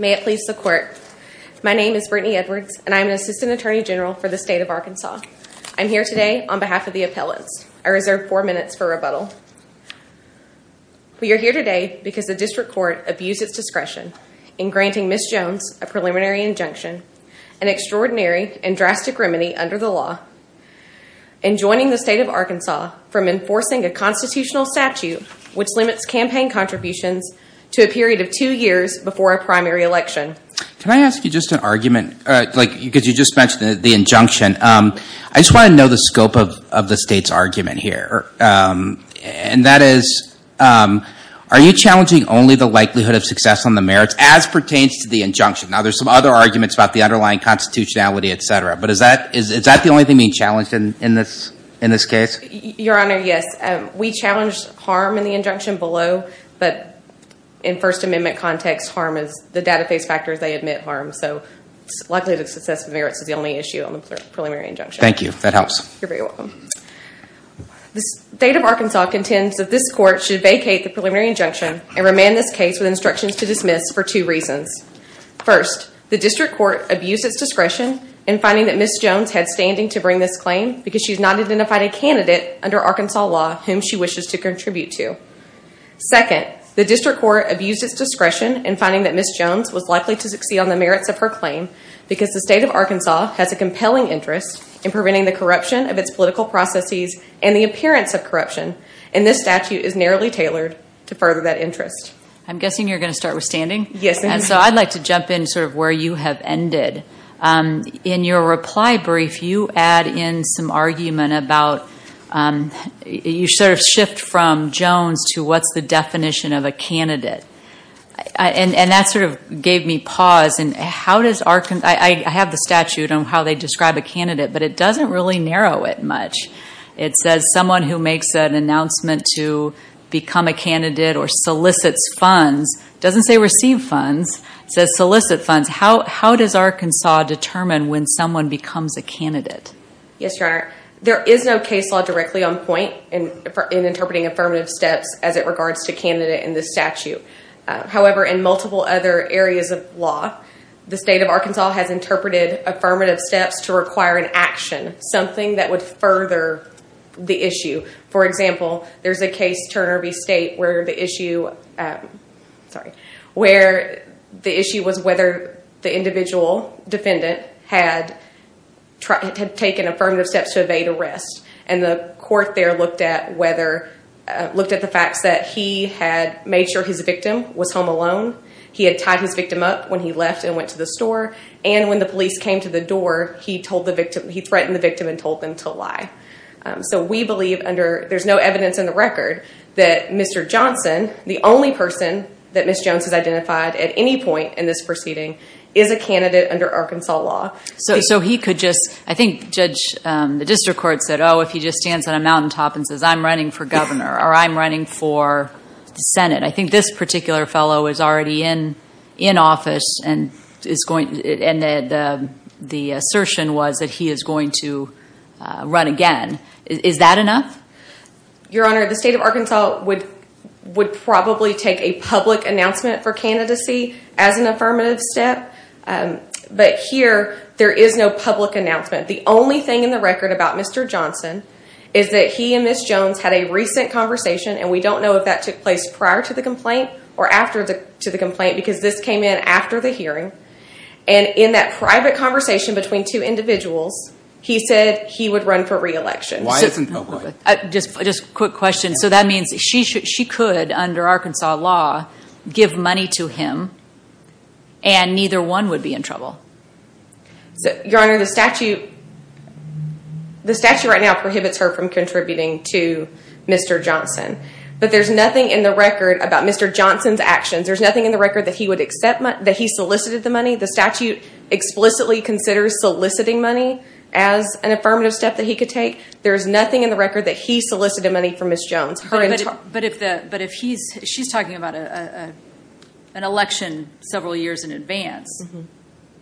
May it please the Court. My name is Brittany Edwards and I'm an Assistant Attorney General for the State of Arkansas. I'm here today on behalf of the appellants. I reserve four minutes for rebuttal. We are here today because the District Court abused its discretion in granting Ms. Jones a preliminary injunction, an extraordinary and drastic remedy under the law, and joining the State of Arkansas from enforcing a constitutional statute which limits campaign contributions to a period of two years before a primary election. Can I ask you just an argument? Because you just mentioned the injunction. I just want to know the scope of the State's argument here. And that is, are you challenging only the likelihood of success on the merits as pertains to the injunction? Now there's some other arguments about the underlying constitutionality, etc. But is that the only thing being challenged in this case? Your Honor, yes. We challenge harm in the injunction below. But in First Amendment context, harm is the data-based factors. They admit harm. So likelihood of success of merits is the only issue on the preliminary injunction. Thank you. That helps. You're very welcome. The State of Arkansas contends that this Court should vacate the preliminary injunction and remand this case with instructions to dismiss for two reasons. First, the District Court abused its discretion in finding that Ms. Jones had standing to bring this claim because she has not identified a candidate under Arkansas law whom she wishes to contribute to. Second, the District Court abused its discretion in finding that Ms. Jones was likely to succeed on the merits of her claim because the State of Arkansas has a compelling interest in preventing the corruption of its political processes and the appearance of corruption. And this statute is narrowly tailored to further that interest. I'm guessing you're going to start with standing? Yes. And so I'd like to jump in sort of where you have ended. In your reply brief, you add in some argument about you sort of shift from Jones to what's the definition of a candidate. And that sort of gave me pause. I have the statute on how they describe a candidate, but it doesn't really narrow it much. It says someone who makes an announcement to become a candidate or solicits funds, it doesn't say receive funds, it says solicit funds. How does Arkansas determine when someone becomes a candidate? Yes, Your Honor. There is no case law directly on point in interpreting affirmative steps as it regards to candidate in this statute. However, in multiple other areas of law, the State of Arkansas has interpreted affirmative steps to require an action, something that would further the issue. For example, there's a case, Turner v. State, where the issue was whether the individual defendant had taken affirmative steps to evade arrest. And the court there looked at the facts that he had made sure his victim was home alone, he had tied his victim up when he left and went to the store, and when the police came to the door, he threatened the victim and told them to lie. So we believe, there's no evidence in the record, that Mr. Johnson, the only person that Ms. Jones has identified at any point in this proceeding, is a candidate under Arkansas law. So he could just, I think Judge, the district court said, oh, if he just stands on a mountaintop and says I'm running for governor or I'm running for the Senate, I think this particular fellow is already in office and the assertion was that he is going to run again. Is that enough? Your Honor, the State of Arkansas would probably take a public announcement for candidacy as an affirmative step. But here, there is no public announcement. The only thing in the record about Mr. Johnson is that he and Ms. Jones had a recent conversation, and we don't know if that took place prior to the complaint or after the complaint, because this came in after the hearing. And in that private conversation between two individuals, he said he would run for re-election. Just a quick question. So that means she could, under Arkansas law, give money to him and neither one would be in trouble? Your Honor, the statute right now prohibits her from contributing to Mr. Johnson. But there's nothing in the record about Mr. Johnson's actions. There's nothing in the record that he solicited the money. The statute explicitly considers soliciting money as an affirmative step that he could take. There's nothing in the record that he solicited money for Ms. Jones. But if he's, she's talking about an election several years in advance,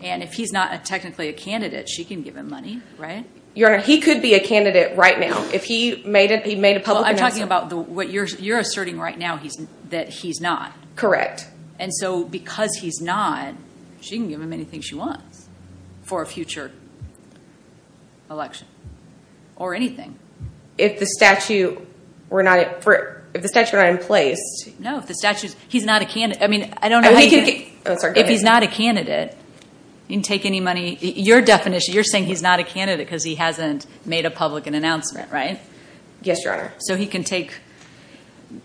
and if he's not technically a candidate, she can give him money, right? Your Honor, he could be a candidate right now. If he made a public announcement. I'm talking about what you're asserting right now, that he's not. Correct. And so because he's not, she can give him anything she wants for a future election or anything. If the statute were not in place. No, if the statute, he's not a candidate. If he's not a candidate, he can take any money. Your definition, you're saying he's not a candidate because he hasn't made a public announcement, right? Yes, Your Honor. So he can take,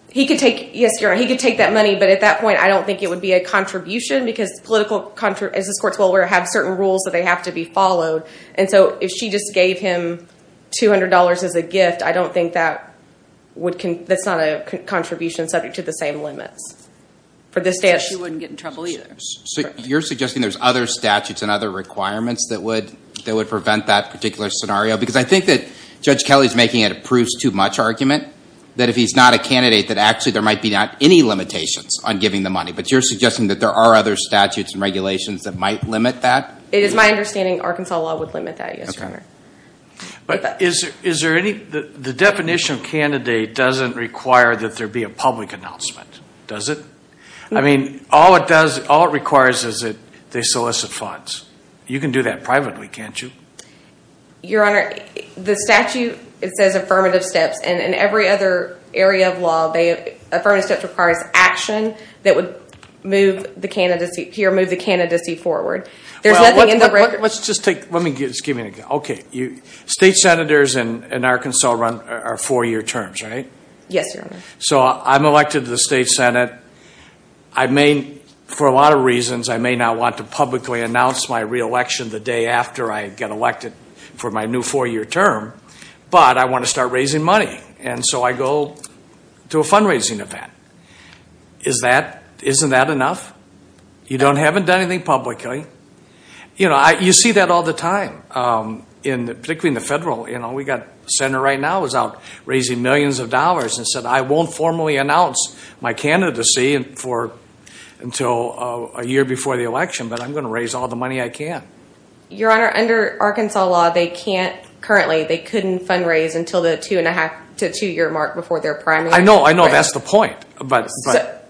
he could take, yes, Your Honor, he could take that money, but at that point I don't think it would be a contribution because political, as this Court's well aware, have certain rules that they have to be followed. And so if she just gave him $200 as a gift, I don't think that would, that's not a contribution subject to the same limits. She wouldn't get in trouble either. So you're suggesting there's other statutes and other requirements that would prevent that particular scenario? Because I think that Judge Kelly's making a proves too much argument, that if he's not a candidate that actually there might be not any limitations on giving the money. But you're suggesting that there are other statutes and regulations that might limit that? But is there any, the definition of candidate doesn't require that there be a public announcement, does it? I mean, all it does, all it requires is that they solicit funds. You can do that privately, can't you? Your Honor, the statute, it says affirmative steps. And in every other area of law, affirmative steps requires action that would move the candidacy, here, move the candidacy forward. There's nothing in the record. Well, let's just take, let me, excuse me, okay. State senators in Arkansas run our four-year terms, right? Yes, Your Honor. So I'm elected to the State Senate. I may, for a lot of reasons, I may not want to publicly announce my re-election the day after I get elected for my new four-year term. But I want to start raising money. And so I go to a fundraising event. Is that, isn't that enough? You don't, haven't done anything publicly. You know, you see that all the time, particularly in the federal. You know, we've got a senator right now who's out raising millions of dollars and said I won't formally announce my candidacy until a year before the election, but I'm going to raise all the money I can. Your Honor, under Arkansas law, they can't currently, they couldn't fundraise until the two-and-a-half to two-year mark before their primary. I know, I know, that's the point.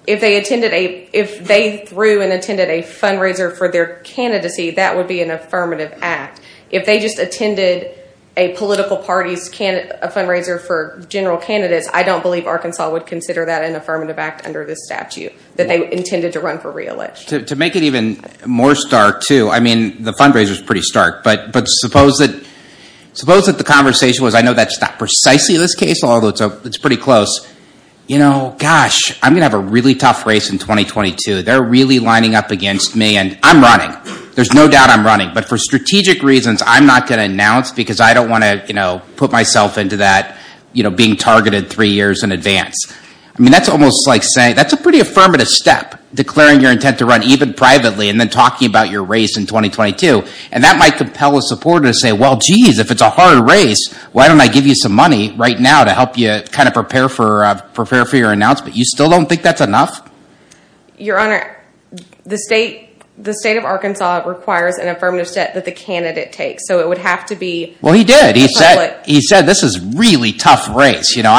If they attended a, if they threw and attended a fundraiser for their candidacy, that would be an affirmative act. If they just attended a political party's fundraiser for general candidates, I don't believe Arkansas would consider that an affirmative act under this statute that they intended to run for re-election. To make it even more stark, too, I mean, the fundraiser's pretty stark. But suppose that, suppose that the conversation was, I know that's not precisely this case, although it's pretty close, you know, gosh, I'm going to have a really tough race in 2022. They're really lining up against me, and I'm running. There's no doubt I'm running. But for strategic reasons, I'm not going to announce because I don't want to, you know, put myself into that, you know, being targeted three years in advance. I mean, that's almost like saying, that's a pretty affirmative step, declaring your intent to run even privately and then talking about your race in 2022. And that might compel a supporter to say, well, geez, if it's a hard race, why don't I give you some money right now to help you kind of prepare for your announcement? You still don't think that's enough? Your Honor, the state of Arkansas requires an affirmative step that the candidate takes. So it would have to be – Well, he did. He said this is a really tough race. You know,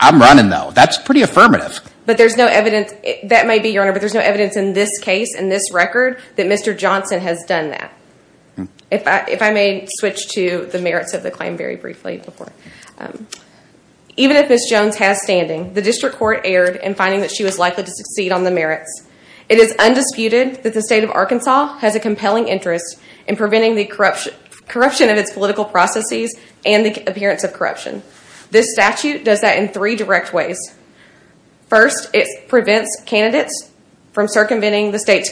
I'm running, though. That's pretty affirmative. But there's no evidence, that may be, Your Honor, but there's no evidence in this case, in this record, that Mr. Johnson has done that. If I may switch to the merits of the claim very briefly before. Even if Ms. Jones has standing, the district court erred in finding that she was likely to succeed on the merits. It is undisputed that the state of Arkansas has a compelling interest in preventing the corruption of its political processes and the appearance of corruption. This statute does that in three direct ways. First, it prevents candidates from circumventing the state's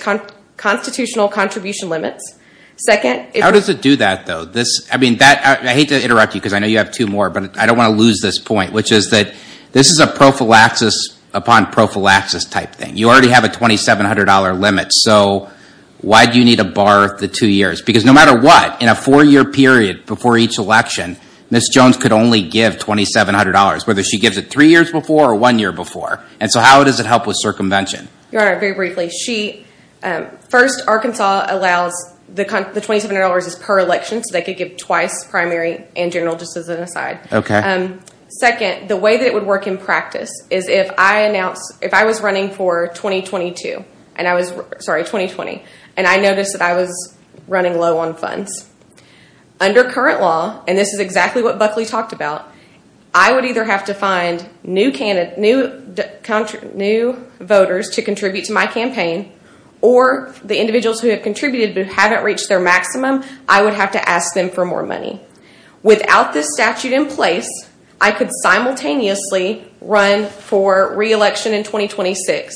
constitutional contribution limits. Second, it – How does it do that, though? This – I mean, that – I hate to interrupt you because I know you have two more, but I don't want to lose this point, which is that this is a prophylaxis upon prophylaxis type thing. You already have a $2,700 limit, so why do you need to bar the two years? Because no matter what, in a four-year period before each election, Ms. Jones could only give $2,700, whether she gives it three years before or one year before. And so how does it help with circumvention? Your Honor, very briefly, she – first, Arkansas allows – the $2,700 is per election, so they could give twice, primary and general, just as an aside. Okay. Second, the way that it would work in practice is if I announced – if I was running for 2022, and I was – sorry, 2020, and I noticed that I was running low on funds, under current law, and this is exactly what Buckley talked about, I would either have to find new voters to contribute to my campaign, or the individuals who have contributed but haven't reached their maximum, I would have to ask them for more money. Without this statute in place, I could simultaneously run for re-election in 2026.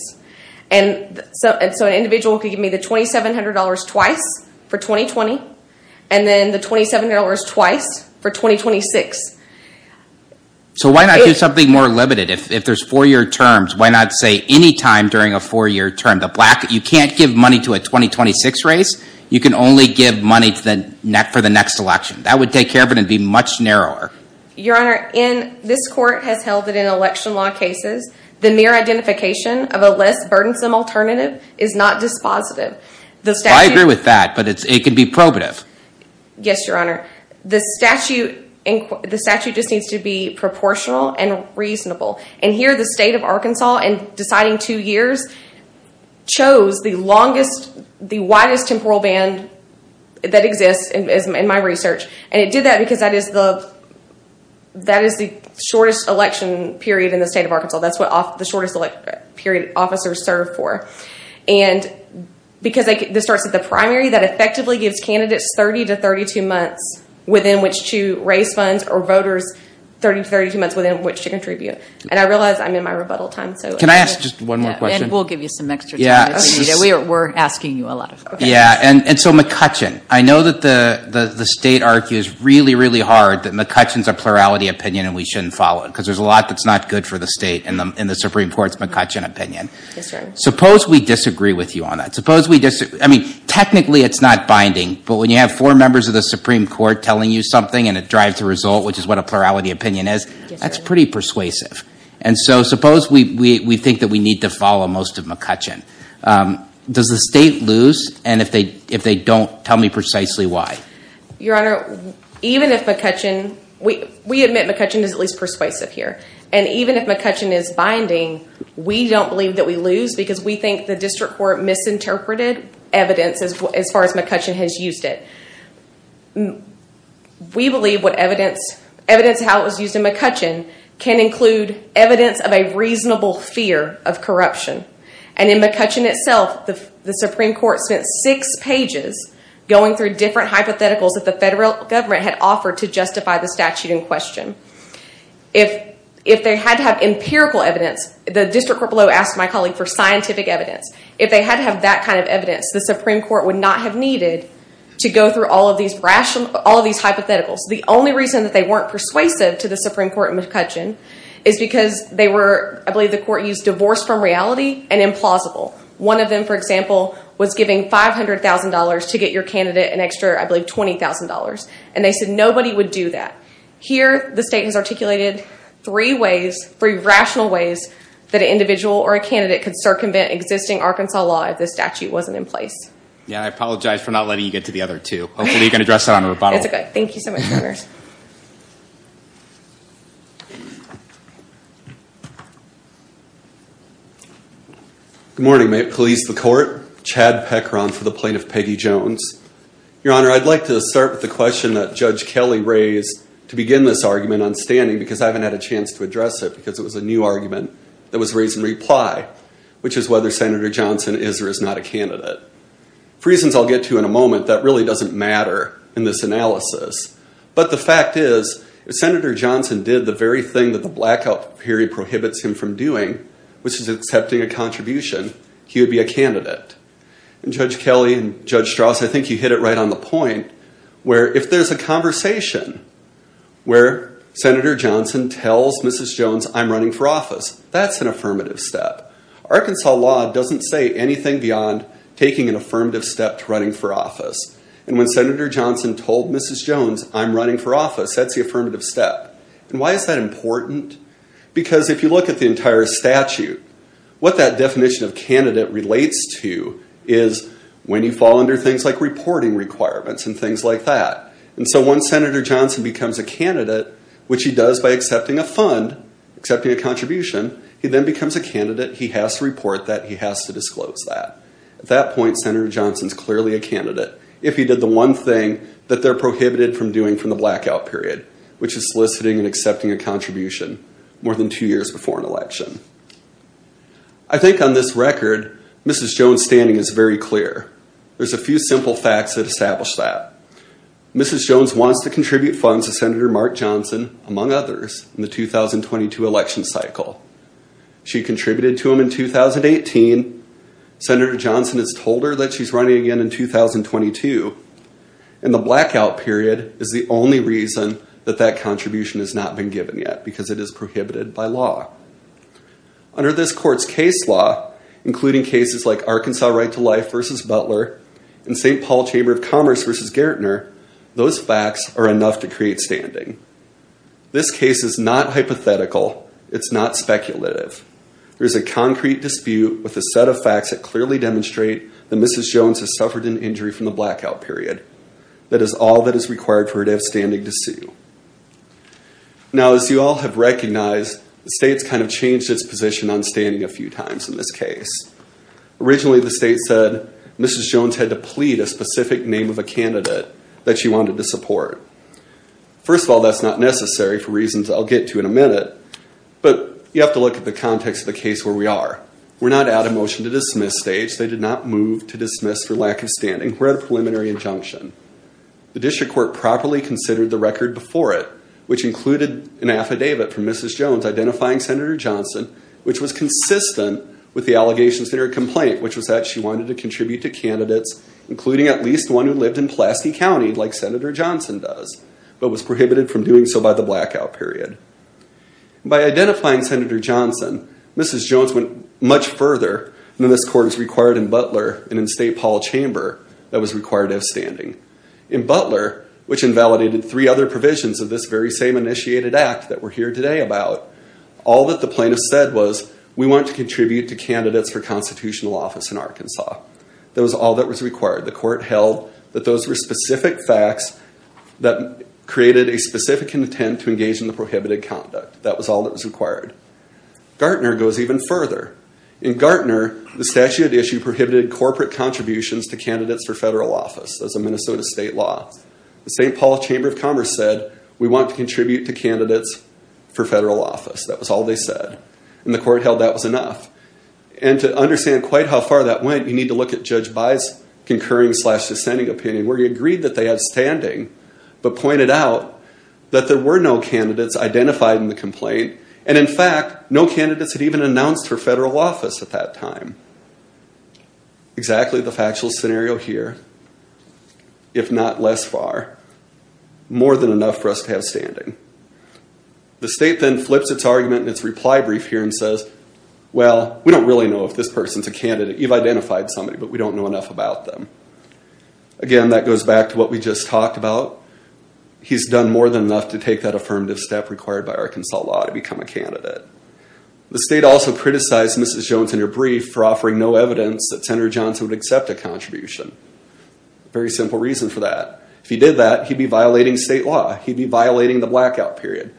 And so an individual could give me the $2,700 twice for 2020, and then the $2,700 twice for 2026. So why not do something more limited? If there's four-year terms, why not say any time during a four-year term? The black – you can't give money to a 2026 race. You can only give money for the next election. That would take care of it and be much narrower. Your Honor, in – this court has held that in election law cases, the mere identification of a less burdensome alternative is not dispositive. I agree with that, but it can be probative. Yes, Your Honor. The statute just needs to be proportional and reasonable. And here the state of Arkansas, in deciding two years, chose the longest – the widest temporal band that exists in my research. And it did that because that is the shortest election period in the state of Arkansas. That's what the shortest election period officers serve for. And because this starts at the primary, that effectively gives candidates 30 to 32 months within which to raise funds or voters 30 to 32 months within which to contribute. And I realize I'm in my rebuttal time, so – Can I ask just one more question? And we'll give you some extra time if you need it. We're asking you a lot of questions. Yeah, and so McCutcheon. I know that the state argues really, really hard that McCutcheon's a plurality opinion and we shouldn't follow it because there's a lot that's not good for the state in the Supreme Court's McCutcheon opinion. Yes, Your Honor. Suppose we disagree with you on that. Suppose we – I mean, technically it's not binding, but when you have four members of the Supreme Court telling you something and it drives the result, which is what a plurality opinion is, that's pretty persuasive. And so suppose we think that we need to follow most of McCutcheon. Does the state lose? And if they don't, tell me precisely why. Your Honor, even if McCutcheon – we admit McCutcheon is at least persuasive here. And even if McCutcheon is binding, we don't believe that we lose because we think the district court misinterpreted evidence as far as McCutcheon has used it. We believe what evidence – evidence of how it was used in McCutcheon can include evidence of a reasonable fear of corruption. And in McCutcheon itself, the Supreme Court spent six pages going through different hypotheticals that the federal government had offered to justify the statute in question. If they had to have empirical evidence, the district court below asked my colleague for scientific evidence. If they had to have that kind of evidence, the Supreme Court would not have needed to go through all of these hypotheticals. is because they were – I believe the court used divorce from reality and implausible. One of them, for example, was giving $500,000 to get your candidate an extra, I believe, $20,000. And they said nobody would do that. Here, the state has articulated three ways – three rational ways that an individual or a candidate could circumvent existing Arkansas law if the statute wasn't in place. Yeah, I apologize for not letting you get to the other two. Hopefully you can address that on a rebuttal. That's okay. Thank you so much, Your Honor. Good morning. May it please the court. Chad Peckron for the plaintiff, Peggy Jones. Your Honor, I'd like to start with the question that Judge Kelly raised to begin this argument on standing because I haven't had a chance to address it because it was a new argument that was raised in reply, which is whether Senator Johnson is or is not a candidate. For reasons I'll get to in a moment, that really doesn't matter in this analysis. But the fact is, if Senator Johnson did the very thing that the blackout period prohibits him from doing, which is accepting a contribution, he would be a candidate. And Judge Kelly and Judge Strauss, I think you hit it right on the point, where if there's a conversation where Senator Johnson tells Mrs. Jones I'm running for office, that's an affirmative step. Arkansas law doesn't say anything beyond taking an affirmative step to running for office. And when Senator Johnson told Mrs. Jones I'm running for office, that's the affirmative step. And why is that important? Because if you look at the entire statute, what that definition of candidate relates to is when you fall under things like reporting requirements and things like that. And so once Senator Johnson becomes a candidate, which he does by accepting a fund, accepting a contribution, he then becomes a candidate, he has to report that, he has to disclose that. At that point, Senator Johnson's clearly a candidate. If he did the one thing that they're prohibited from doing from the blackout period, which is soliciting and accepting a contribution, more than two years before an election. I think on this record, Mrs. Jones' standing is very clear. There's a few simple facts that establish that. Mrs. Jones wants to contribute funds to Senator Mark Johnson, among others, in the 2022 election cycle. She contributed to him in 2018. Senator Johnson has told her that she's running again in 2022. And the blackout period is the only reason that that contribution has not been given yet, because it is prohibited by law. Under this court's case law, including cases like Arkansas Right to Life versus Butler and St. Paul Chamber of Commerce versus Gairdner, those facts are enough to create standing. This case is not hypothetical. It's not speculative. There's a concrete dispute with a set of facts that clearly demonstrate that That is all that is required for her to have standing to sue. Now, as you all have recognized, the state's kind of changed its position on standing a few times in this case. Originally, the state said Mrs. Jones had to plead a specific name of a candidate that she wanted to support. First of all, that's not necessary for reasons I'll get to in a minute, but you have to look at the context of the case where we are. We're not at a motion to dismiss stage. They did not move to dismiss for lack of standing. We're at a preliminary injunction. The district court properly considered the record before it, which included an affidavit from Mrs. Jones identifying Senator Johnson, which was consistent with the allegations in her complaint, which was that she wanted to contribute to candidates, including at least one who lived in Pulaski County like Senator Johnson does, but was prohibited from doing so by the blackout period. By identifying Senator Johnson, Mrs. Jones went much further. This court is required in Butler and in state hall chamber that was required of standing. In Butler, which invalidated three other provisions of this very same initiated act that we're here today about, all that the plaintiff said was, we want to contribute to candidates for constitutional office in Arkansas. That was all that was required. The court held that those were specific facts that created a specific intent That was all that was required. Gartner goes even further. In Gartner, the statute issue prohibited corporate contributions to candidates for federal office. That's a Minnesota state law. The St. Paul Chamber of Commerce said, we want to contribute to candidates for federal office. That was all they said. And the court held that was enough. And to understand quite how far that went, you need to look at Judge By's concurring slash dissenting opinion, where he agreed that they had standing, but pointed out that there were no candidates identified in the complaint. And in fact, no candidates had even announced for federal office at that time. Exactly the factual scenario here, if not less far. More than enough for us to have standing. The state then flips its argument in its reply brief here and says, well, we don't really know if this person's a candidate. You've identified somebody, but we don't know enough about them. Again, that goes back to what we just talked about. He's done more than enough to take that affirmative step required by Arkansas law to become a candidate. The state also criticized Mrs. Jones in her brief for offering no evidence that Senator Johnson would accept a contribution. Very simple reason for that. If he did that, he'd be violating state law. He'd be violating the blackout period.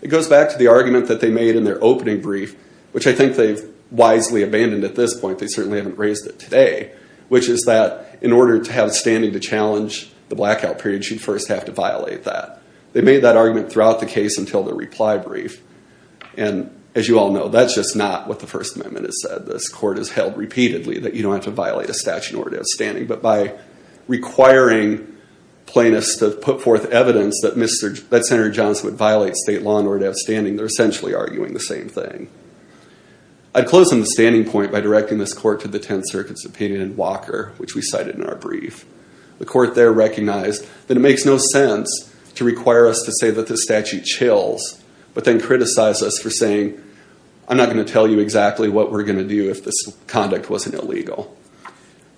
It goes back to the argument that they made in their opening brief, which I think they've wisely abandoned at this point. They certainly haven't raised it today, which is that in order to have standing to challenge the blackout period, she'd first have to violate that. They made that argument throughout the case until their reply brief. And as you all know, that's just not what the First Amendment has said. This court has held repeatedly that you don't have to violate a statute in order to have standing. But by requiring plaintiffs to put forth evidence that Senator Johnson would violate state law in order to have standing, they're essentially arguing the same thing. I'd close on the standing point by directing this court to the 10th Circuit's opinion in Walker, which we cited in our brief. The court there recognized that it makes no sense to require us to say that this statute chills, but then criticize us for saying, I'm not going to tell you exactly what we're going to do if this conduct wasn't illegal.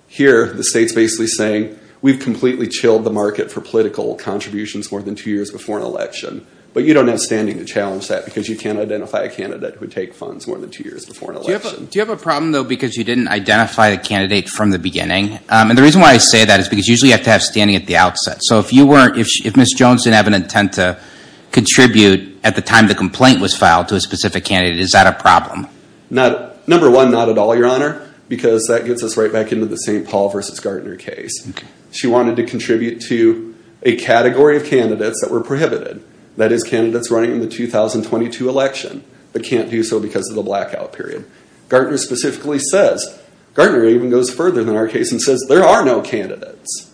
Here, the state's basically saying, we've completely chilled the market for political contributions more than two years before an election, but you don't have standing to challenge that because you can't identify a candidate who would take funds more than two years before an election. Do you have a problem, though, because you didn't identify the candidate from the beginning? And the reason why I say that is because usually you have to have standing at the outset. So if Ms. Jones didn't have an intent to contribute at the time the complaint was filed to a specific candidate, is that a problem? Number one, not at all, Your Honor, because that gets us right back into the St. Paul v. Gartner case. She wanted to contribute to a category of candidates that were prohibited, that is, candidates running in the 2022 election, but can't do so because of the blackout period. Gartner specifically says, Gartner even goes further than our case and says, there are no candidates,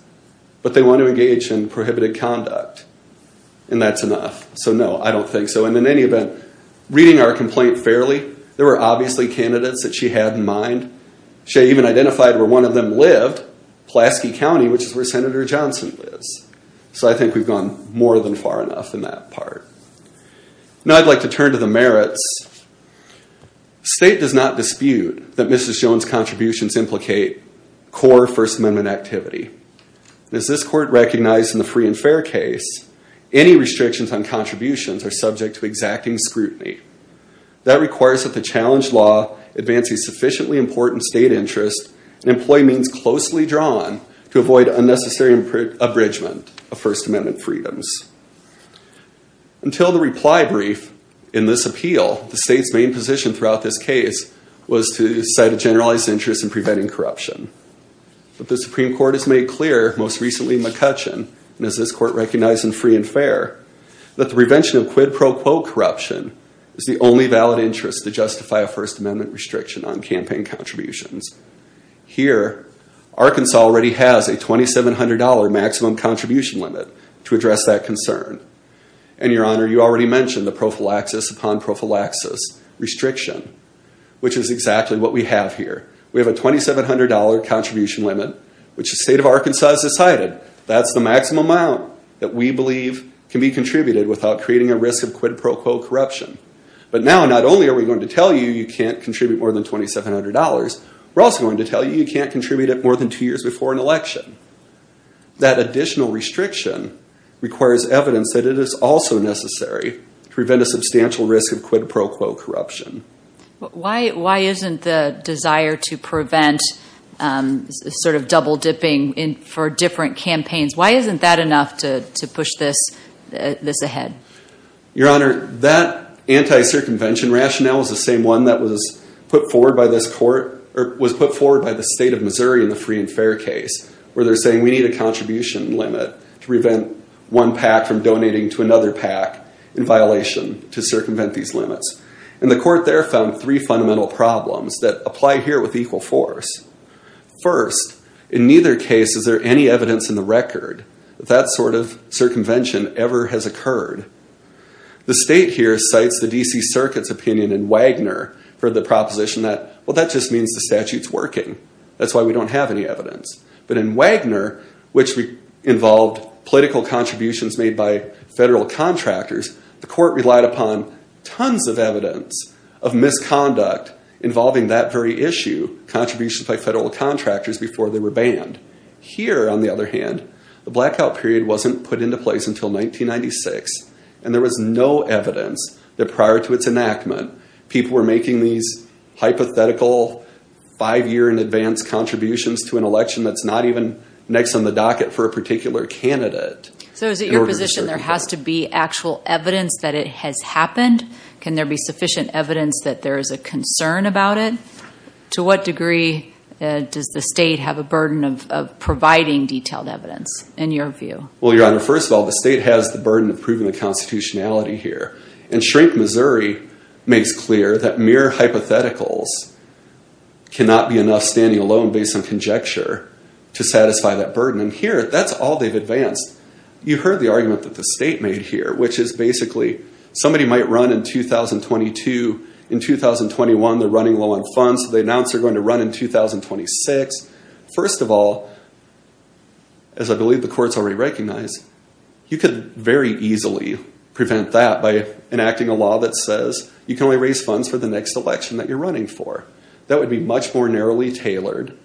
but they want to engage in prohibited conduct, and that's enough. So no, I don't think so. And in any event, reading our complaint fairly, there were obviously candidates that she had in mind. She even identified where one of them lived, Pulaski County, which is where Senator Johnson lives. So I think we've gone more than far enough in that part. Now I'd like to turn to the merits. State does not dispute that Mrs. Jones' contributions implicate core First Amendment activity. As this court recognized in the Free and Fair case, any restrictions on contributions are subject to exacting scrutiny. That requires that the challenge law advances sufficiently important state interests and employee means closely drawn to avoid unnecessary abridgment of First Amendment freedoms. Until the reply brief in this appeal, the state's main position throughout this case was to cite a generalized interest in preventing corruption. But the Supreme Court has made clear, most recently McCutcheon, and as this court recognized in Free and Fair, that the prevention of quid pro quo corruption is the only valid interest to justify a First Amendment restriction on campaign contributions. Here, Arkansas already has a $2,700 maximum contribution limit to address that concern. And Your Honor, you already mentioned the prophylaxis upon prophylaxis restriction, which is exactly what we have here. We have a $2,700 contribution limit, which the state of Arkansas has decided that's the maximum amount that we believe can be contributed without creating a risk of quid pro quo corruption. But now not only are we going to tell you you can't contribute more than $2,700, we're also going to tell you you can't contribute more than two years before an election. That additional restriction requires evidence that it is also necessary to prevent a substantial risk of quid pro quo corruption. Why isn't the desire to prevent sort of double dipping for different campaigns, why isn't that enough to push this ahead? Your Honor, that anti-circumvention rationale is the same one that was put forward by this court, or was put forward by the state of Missouri in the Free and Fair case, where they're saying we need a contribution limit to prevent one PAC from donating to another PAC in violation to circumvent these limits. And the court there found three fundamental problems that apply here with equal force. First, in neither case is there any evidence in the record that that sort of circumvention ever has occurred. The state here cites the D.C. Circuit's opinion in Wagner for the proposition that, well, that just means the statute's working. That's why we don't have any evidence. But in Wagner, which involved political contributions made by federal contractors, the court relied upon tons of evidence of misconduct involving that very issue, contributions by federal contractors before they were banned. Here, on the other hand, the blackout period wasn't put into place until 1996, and there was no evidence that prior to its enactment people were making these hypothetical five-year-in-advance contributions to an election that's not even next on the docket for a particular candidate. So is it your position there has to be actual evidence that it has happened? Can there be sufficient evidence that there is a concern about it? To what degree does the state have a burden of providing detailed evidence, in your view? Well, Your Honor, first of all, the state has the burden of proving the constitutionality here. And Shrink Missouri makes clear that mere hypotheticals cannot be enough standing alone based on conjecture to satisfy that burden. And here, that's all they've advanced. You heard the argument that the state made here, which is basically somebody might run in 2022. In 2021, they're running low on funds, so they announce they're going to run in 2026. First of all, as I believe the court's already recognized, you could very easily prevent that by enacting a law that says you can only raise funds for the next election that you're running for. That would be much more narrowly tailored.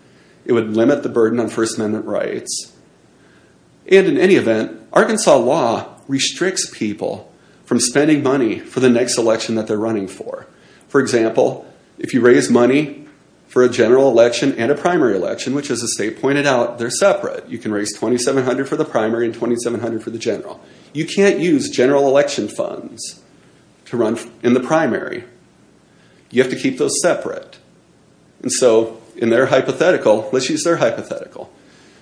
It would limit the burden on First Amendment rights. And in any event, Arkansas law restricts people from spending money for the next election that they're running for. For example, if you raise money for a general election and a primary election, which as the state pointed out, they're separate. You can raise $2,700 for the primary and $2,700 for the general. You can't use general election funds to run in the primary. You have to keep those separate. And so in their hypothetical, let's use their hypothetical.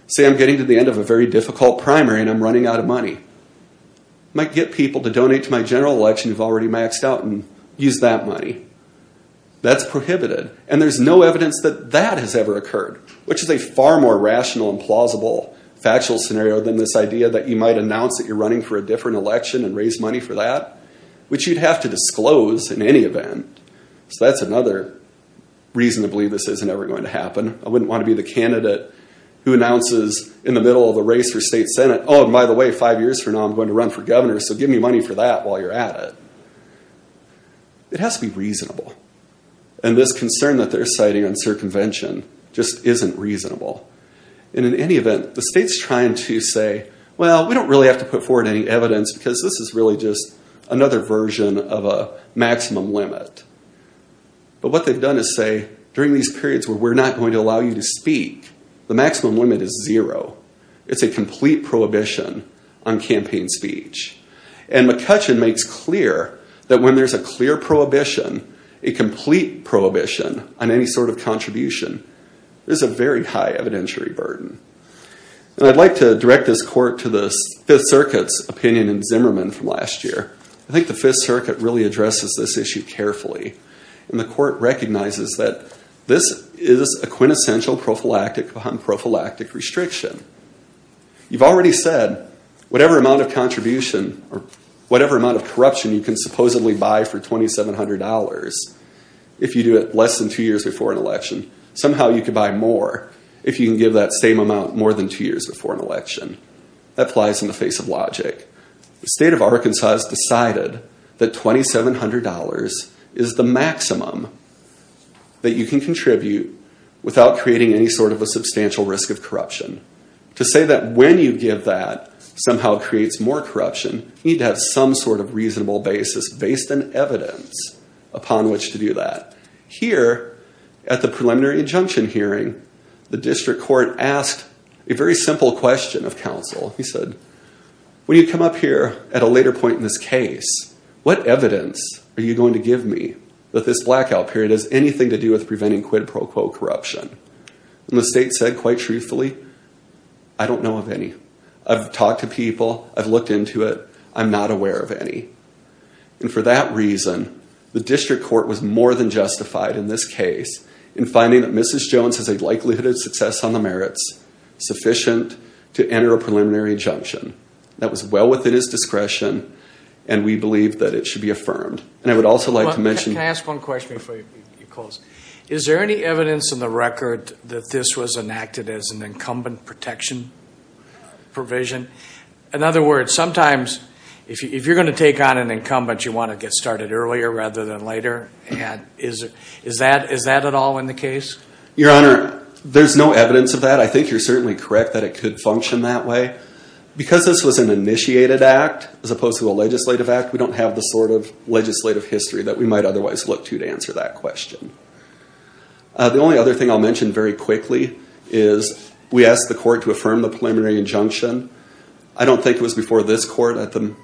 Say I'm getting to the end of a very difficult primary and I'm running out of money. I might get people to donate to my general election who've already maxed out and use that money. That's prohibited. And there's no evidence that that has ever occurred, which is a far more rational and plausible factual scenario than this idea that you might announce that you're running for a different election and raise money for that, which you'd have to disclose in any event. So that's another reason to believe this isn't ever going to happen. I wouldn't want to be the candidate who announces in the middle of the race for state Senate, oh, and by the way, five years from now, I'm going to run for governor. So give me money for that while you're at it. It has to be reasonable. And this concern that they're citing on circumvention just isn't reasonable. And in any event, the state's trying to say, well, we don't really have to put forward any evidence because this is really just another version of a maximum limit. But what they've done is say during these periods where we're not going to allow you to speak, the maximum limit is zero. It's a complete prohibition on campaign speech. And McCutcheon makes clear that when there's a clear prohibition, a complete prohibition on any sort of contribution, there's a very high evidentiary burden. And I'd like to direct this court to the Fifth Circuit's opinion in Zimmerman from last year. I think the Fifth Circuit really addresses this issue carefully. And the court recognizes that this is a quintessential prophylactic on prophylactic restriction. You've already said whatever amount of contribution or whatever amount of corruption you can supposedly buy for $2,700 if you do it less than two years before an election, somehow you can buy more if you can give that same amount more than two years before an election. That applies in the face of logic. The state of Arkansas has decided that $2,700 is the maximum that you can contribute without creating any sort of a substantial risk of corruption. To say that when you give that somehow creates more corruption you need to have some sort of reasonable basis based on evidence upon which to do that. Here, at the preliminary injunction hearing, the district court asked a very simple question of counsel. He said, when you come up here at a later point in this case, what evidence are you going to give me that this blackout period has anything to do with preventing quid pro quo corruption? And the state said, quite truthfully, I don't know of any. I've talked to people. I've looked into it. I'm not aware of any. And for that reason, the district court was more than justified in this case in finding that Mrs. Jones has a likelihood of success on the merits sufficient to enter a preliminary injunction. That was well within his discretion, and we believe that it should be affirmed. And I would also like to mention... Can I ask one question before you close? Is there any evidence in the record that this was enacted as an incumbent protection provision? In other words, sometimes, if you're going to take on an incumbent, you want to get started earlier rather than later. Is that at all in the case? Your Honor, there's no evidence of that. I think you're certainly correct that it could function that way. Because this was an initiated act as opposed to a legislative act, we don't have the sort of legislative history that we might otherwise look to to answer that question. The only other thing I'll mention very quickly is we asked the court to affirm the preliminary injunction. I don't think it was before this court at the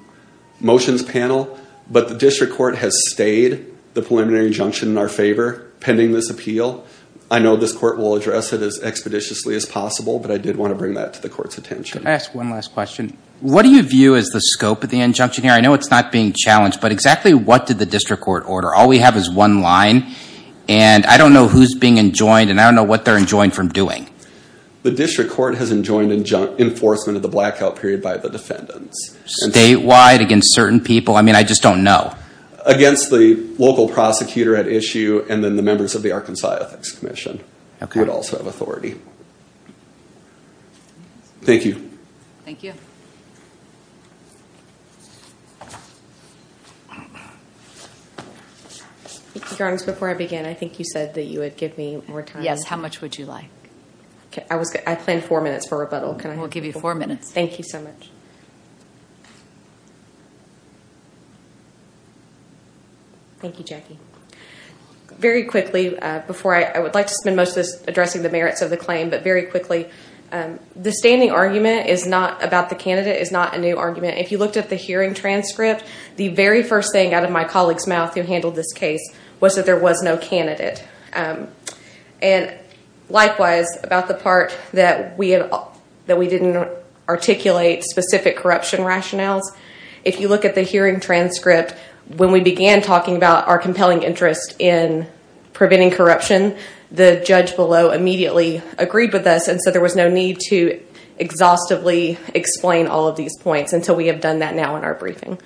motions panel, but the district court has stayed the preliminary injunction in our favor pending this appeal. I know this court will address it as expeditiously as possible, but I did want to bring that to the court's attention. Can I ask one last question? What do you view as the scope of the injunction here? I know it's not being challenged, but exactly what did the district court order? All we have is one line, and I don't know who's being enjoined, and I don't know what they're enjoined from doing. The district court has enjoined enforcement of the blackout period by the defendants. Statewide, against certain people? I mean, I just don't know. Against the local prosecutor at issue and then the members of the Arkansas Ethics Commission who would also have authority. Thank you. Thank you. Your Honor, before I begin, I think you said that you would give me more time. Yes, how much would you like? I planned four minutes for rebuttal. We'll give you four minutes. Thank you so much. Thank you, Jackie. Very quickly, before I... I would like to spend most of this addressing the merits of the claim, but very quickly, the standing argument about the candidate is not a new argument. If you looked at the hearing transcript, the very first thing out of my colleague's mouth who handled this case was that there was no candidate. And likewise, about the part that we didn't articulate specific corruption rationales, if you look at the hearing transcript, when we began talking about our compelling interest in preventing corruption, the judge below immediately agreed with us and so there was no need to exhaustively explain all of these points until we have done that now in our briefing.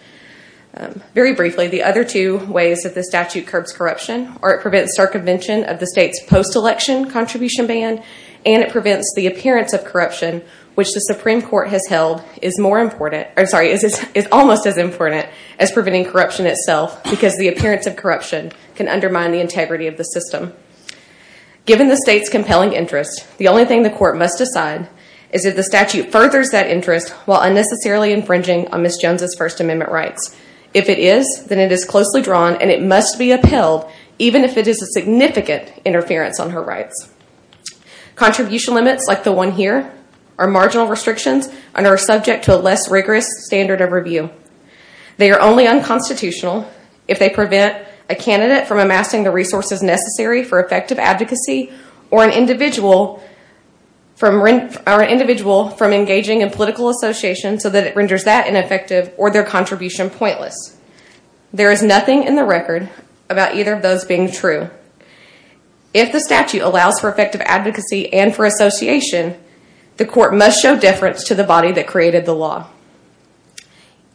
Very briefly, the other two ways that the statute curbs corruption are it prevents circumvention of the state's post-election contribution ban and it prevents the appearance of corruption, which the Supreme Court has held is more important... I'm sorry, is almost as important as preventing corruption itself, because the appearance of corruption can undermine the integrity of the system. Given the state's compelling interest, the only thing the court must decide is if the statute furthers that interest while unnecessarily infringing on Ms. Jones' First Amendment rights. If it is, then it is closely drawn and it must be upheld, even if it is a significant interference on her rights. Contribution limits, like the one here, are marginal restrictions and are subject to a less rigorous standard of review. They are only unconstitutional if they prevent a candidate from amassing the resources necessary for effective advocacy or an individual from engaging in political association so that it renders that ineffective or their contribution pointless. There is nothing in the record about either of those being true. If the statute allows for effective advocacy and for association, the court must show deference to the body that created the law.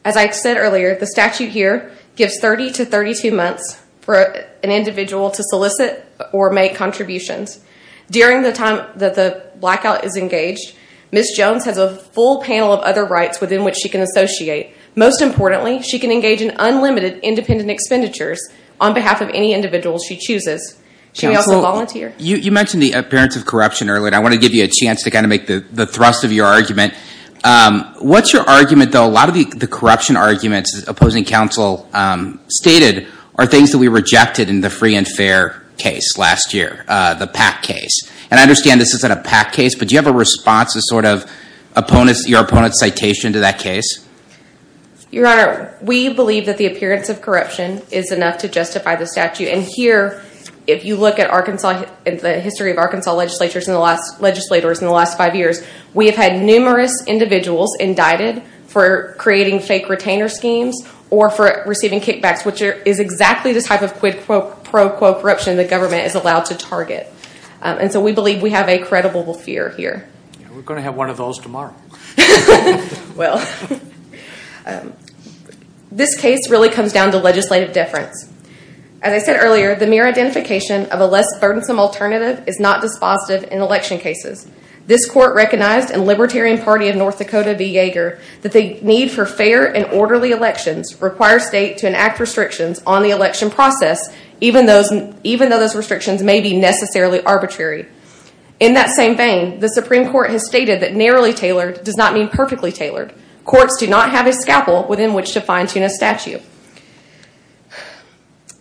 As I said earlier, the statute here gives 30 to 32 months for an individual to solicit or make contributions. During the time that the blackout is engaged, Ms. Bates must show the rights within which she can associate. Most importantly, she can engage in unlimited independent expenditures on behalf of any individual she chooses. Can we also volunteer? You mentioned the appearance of corruption earlier, and I want to give you a chance to kind of make the thrust of your argument. What's your argument, though? A lot of the corruption arguments opposing counsel stated are things that we rejected in the free and fair case last year, the PAC case. And I understand this isn't a PAC case, but do you have a response to sort of your opponent's citation to that case? Your Honor, we believe that the appearance of corruption is enough to justify the statute. And here, if you look at the history of Arkansas legislators in the last five years, we have had numerous individuals indicted for creating fake retainer schemes or for receiving kickbacks, which is exactly the type of pro quo corruption the government is allowed to target. And so we believe we have a credible fear here. We're going to have one of those tomorrow. Well, this case really comes down to legislative difference. As I said earlier, the mere identification of a less burdensome alternative is not dispositive in election cases. This Court recognized in Libertarian Party of North Dakota v. Yeager that the need for fair and orderly elections requires State to enact restrictions on the election process, even though those restrictions may be In that same vein, the Supreme Court has stated that narrowly tailored does not mean perfectly tailored. Courts do not have a scalpel within which to fine-tune a statute.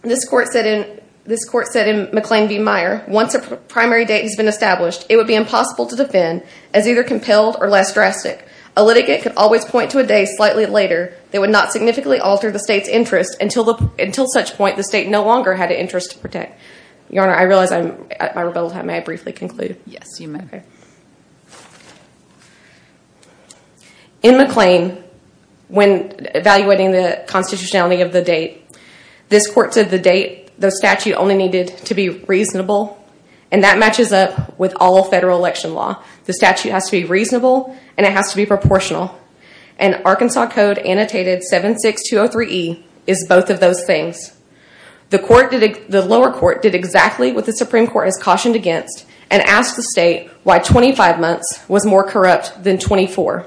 This Court said in McLean v. Meyer, once a primary date has been established, it would be impossible to defend as either compelled or less drastic. A litigate could always point to a day slightly later that would not significantly alter the State's interest until such point the State no longer had an interest to protect. Your Honor, I realize I rebelled. May I briefly conclude? Yes, you may. In McLean, when evaluating the constitutionality of the date, this Court said the statute only needed to be reasonable, and that matches up with all federal election law. The statute has to be reasonable and it has to be proportional. And Arkansas Code Annotated 76203E is both of those things. The lower court did exactly what the Supreme Court has cautioned against and asked the State why 25 months was more corrupt than 24.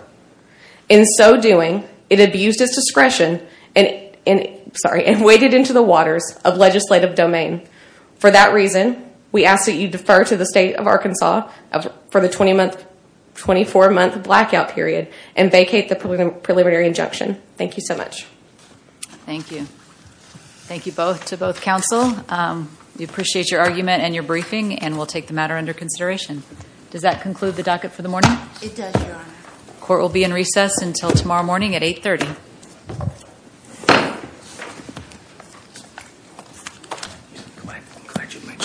In so doing, it abused its discretion and waded into the waters of legislative domain. For that reason, we ask that you defer to the State of Arkansas for the 24-month blackout period and vacate the preliminary injunction. Thank you so much. Thank you. Thank you both to both counsel. We appreciate your argument and your briefing, and we'll take the matter under consideration. Does that conclude the docket for the morning? It does, Your Honor. Court will be in recess until tomorrow morning at 8.30.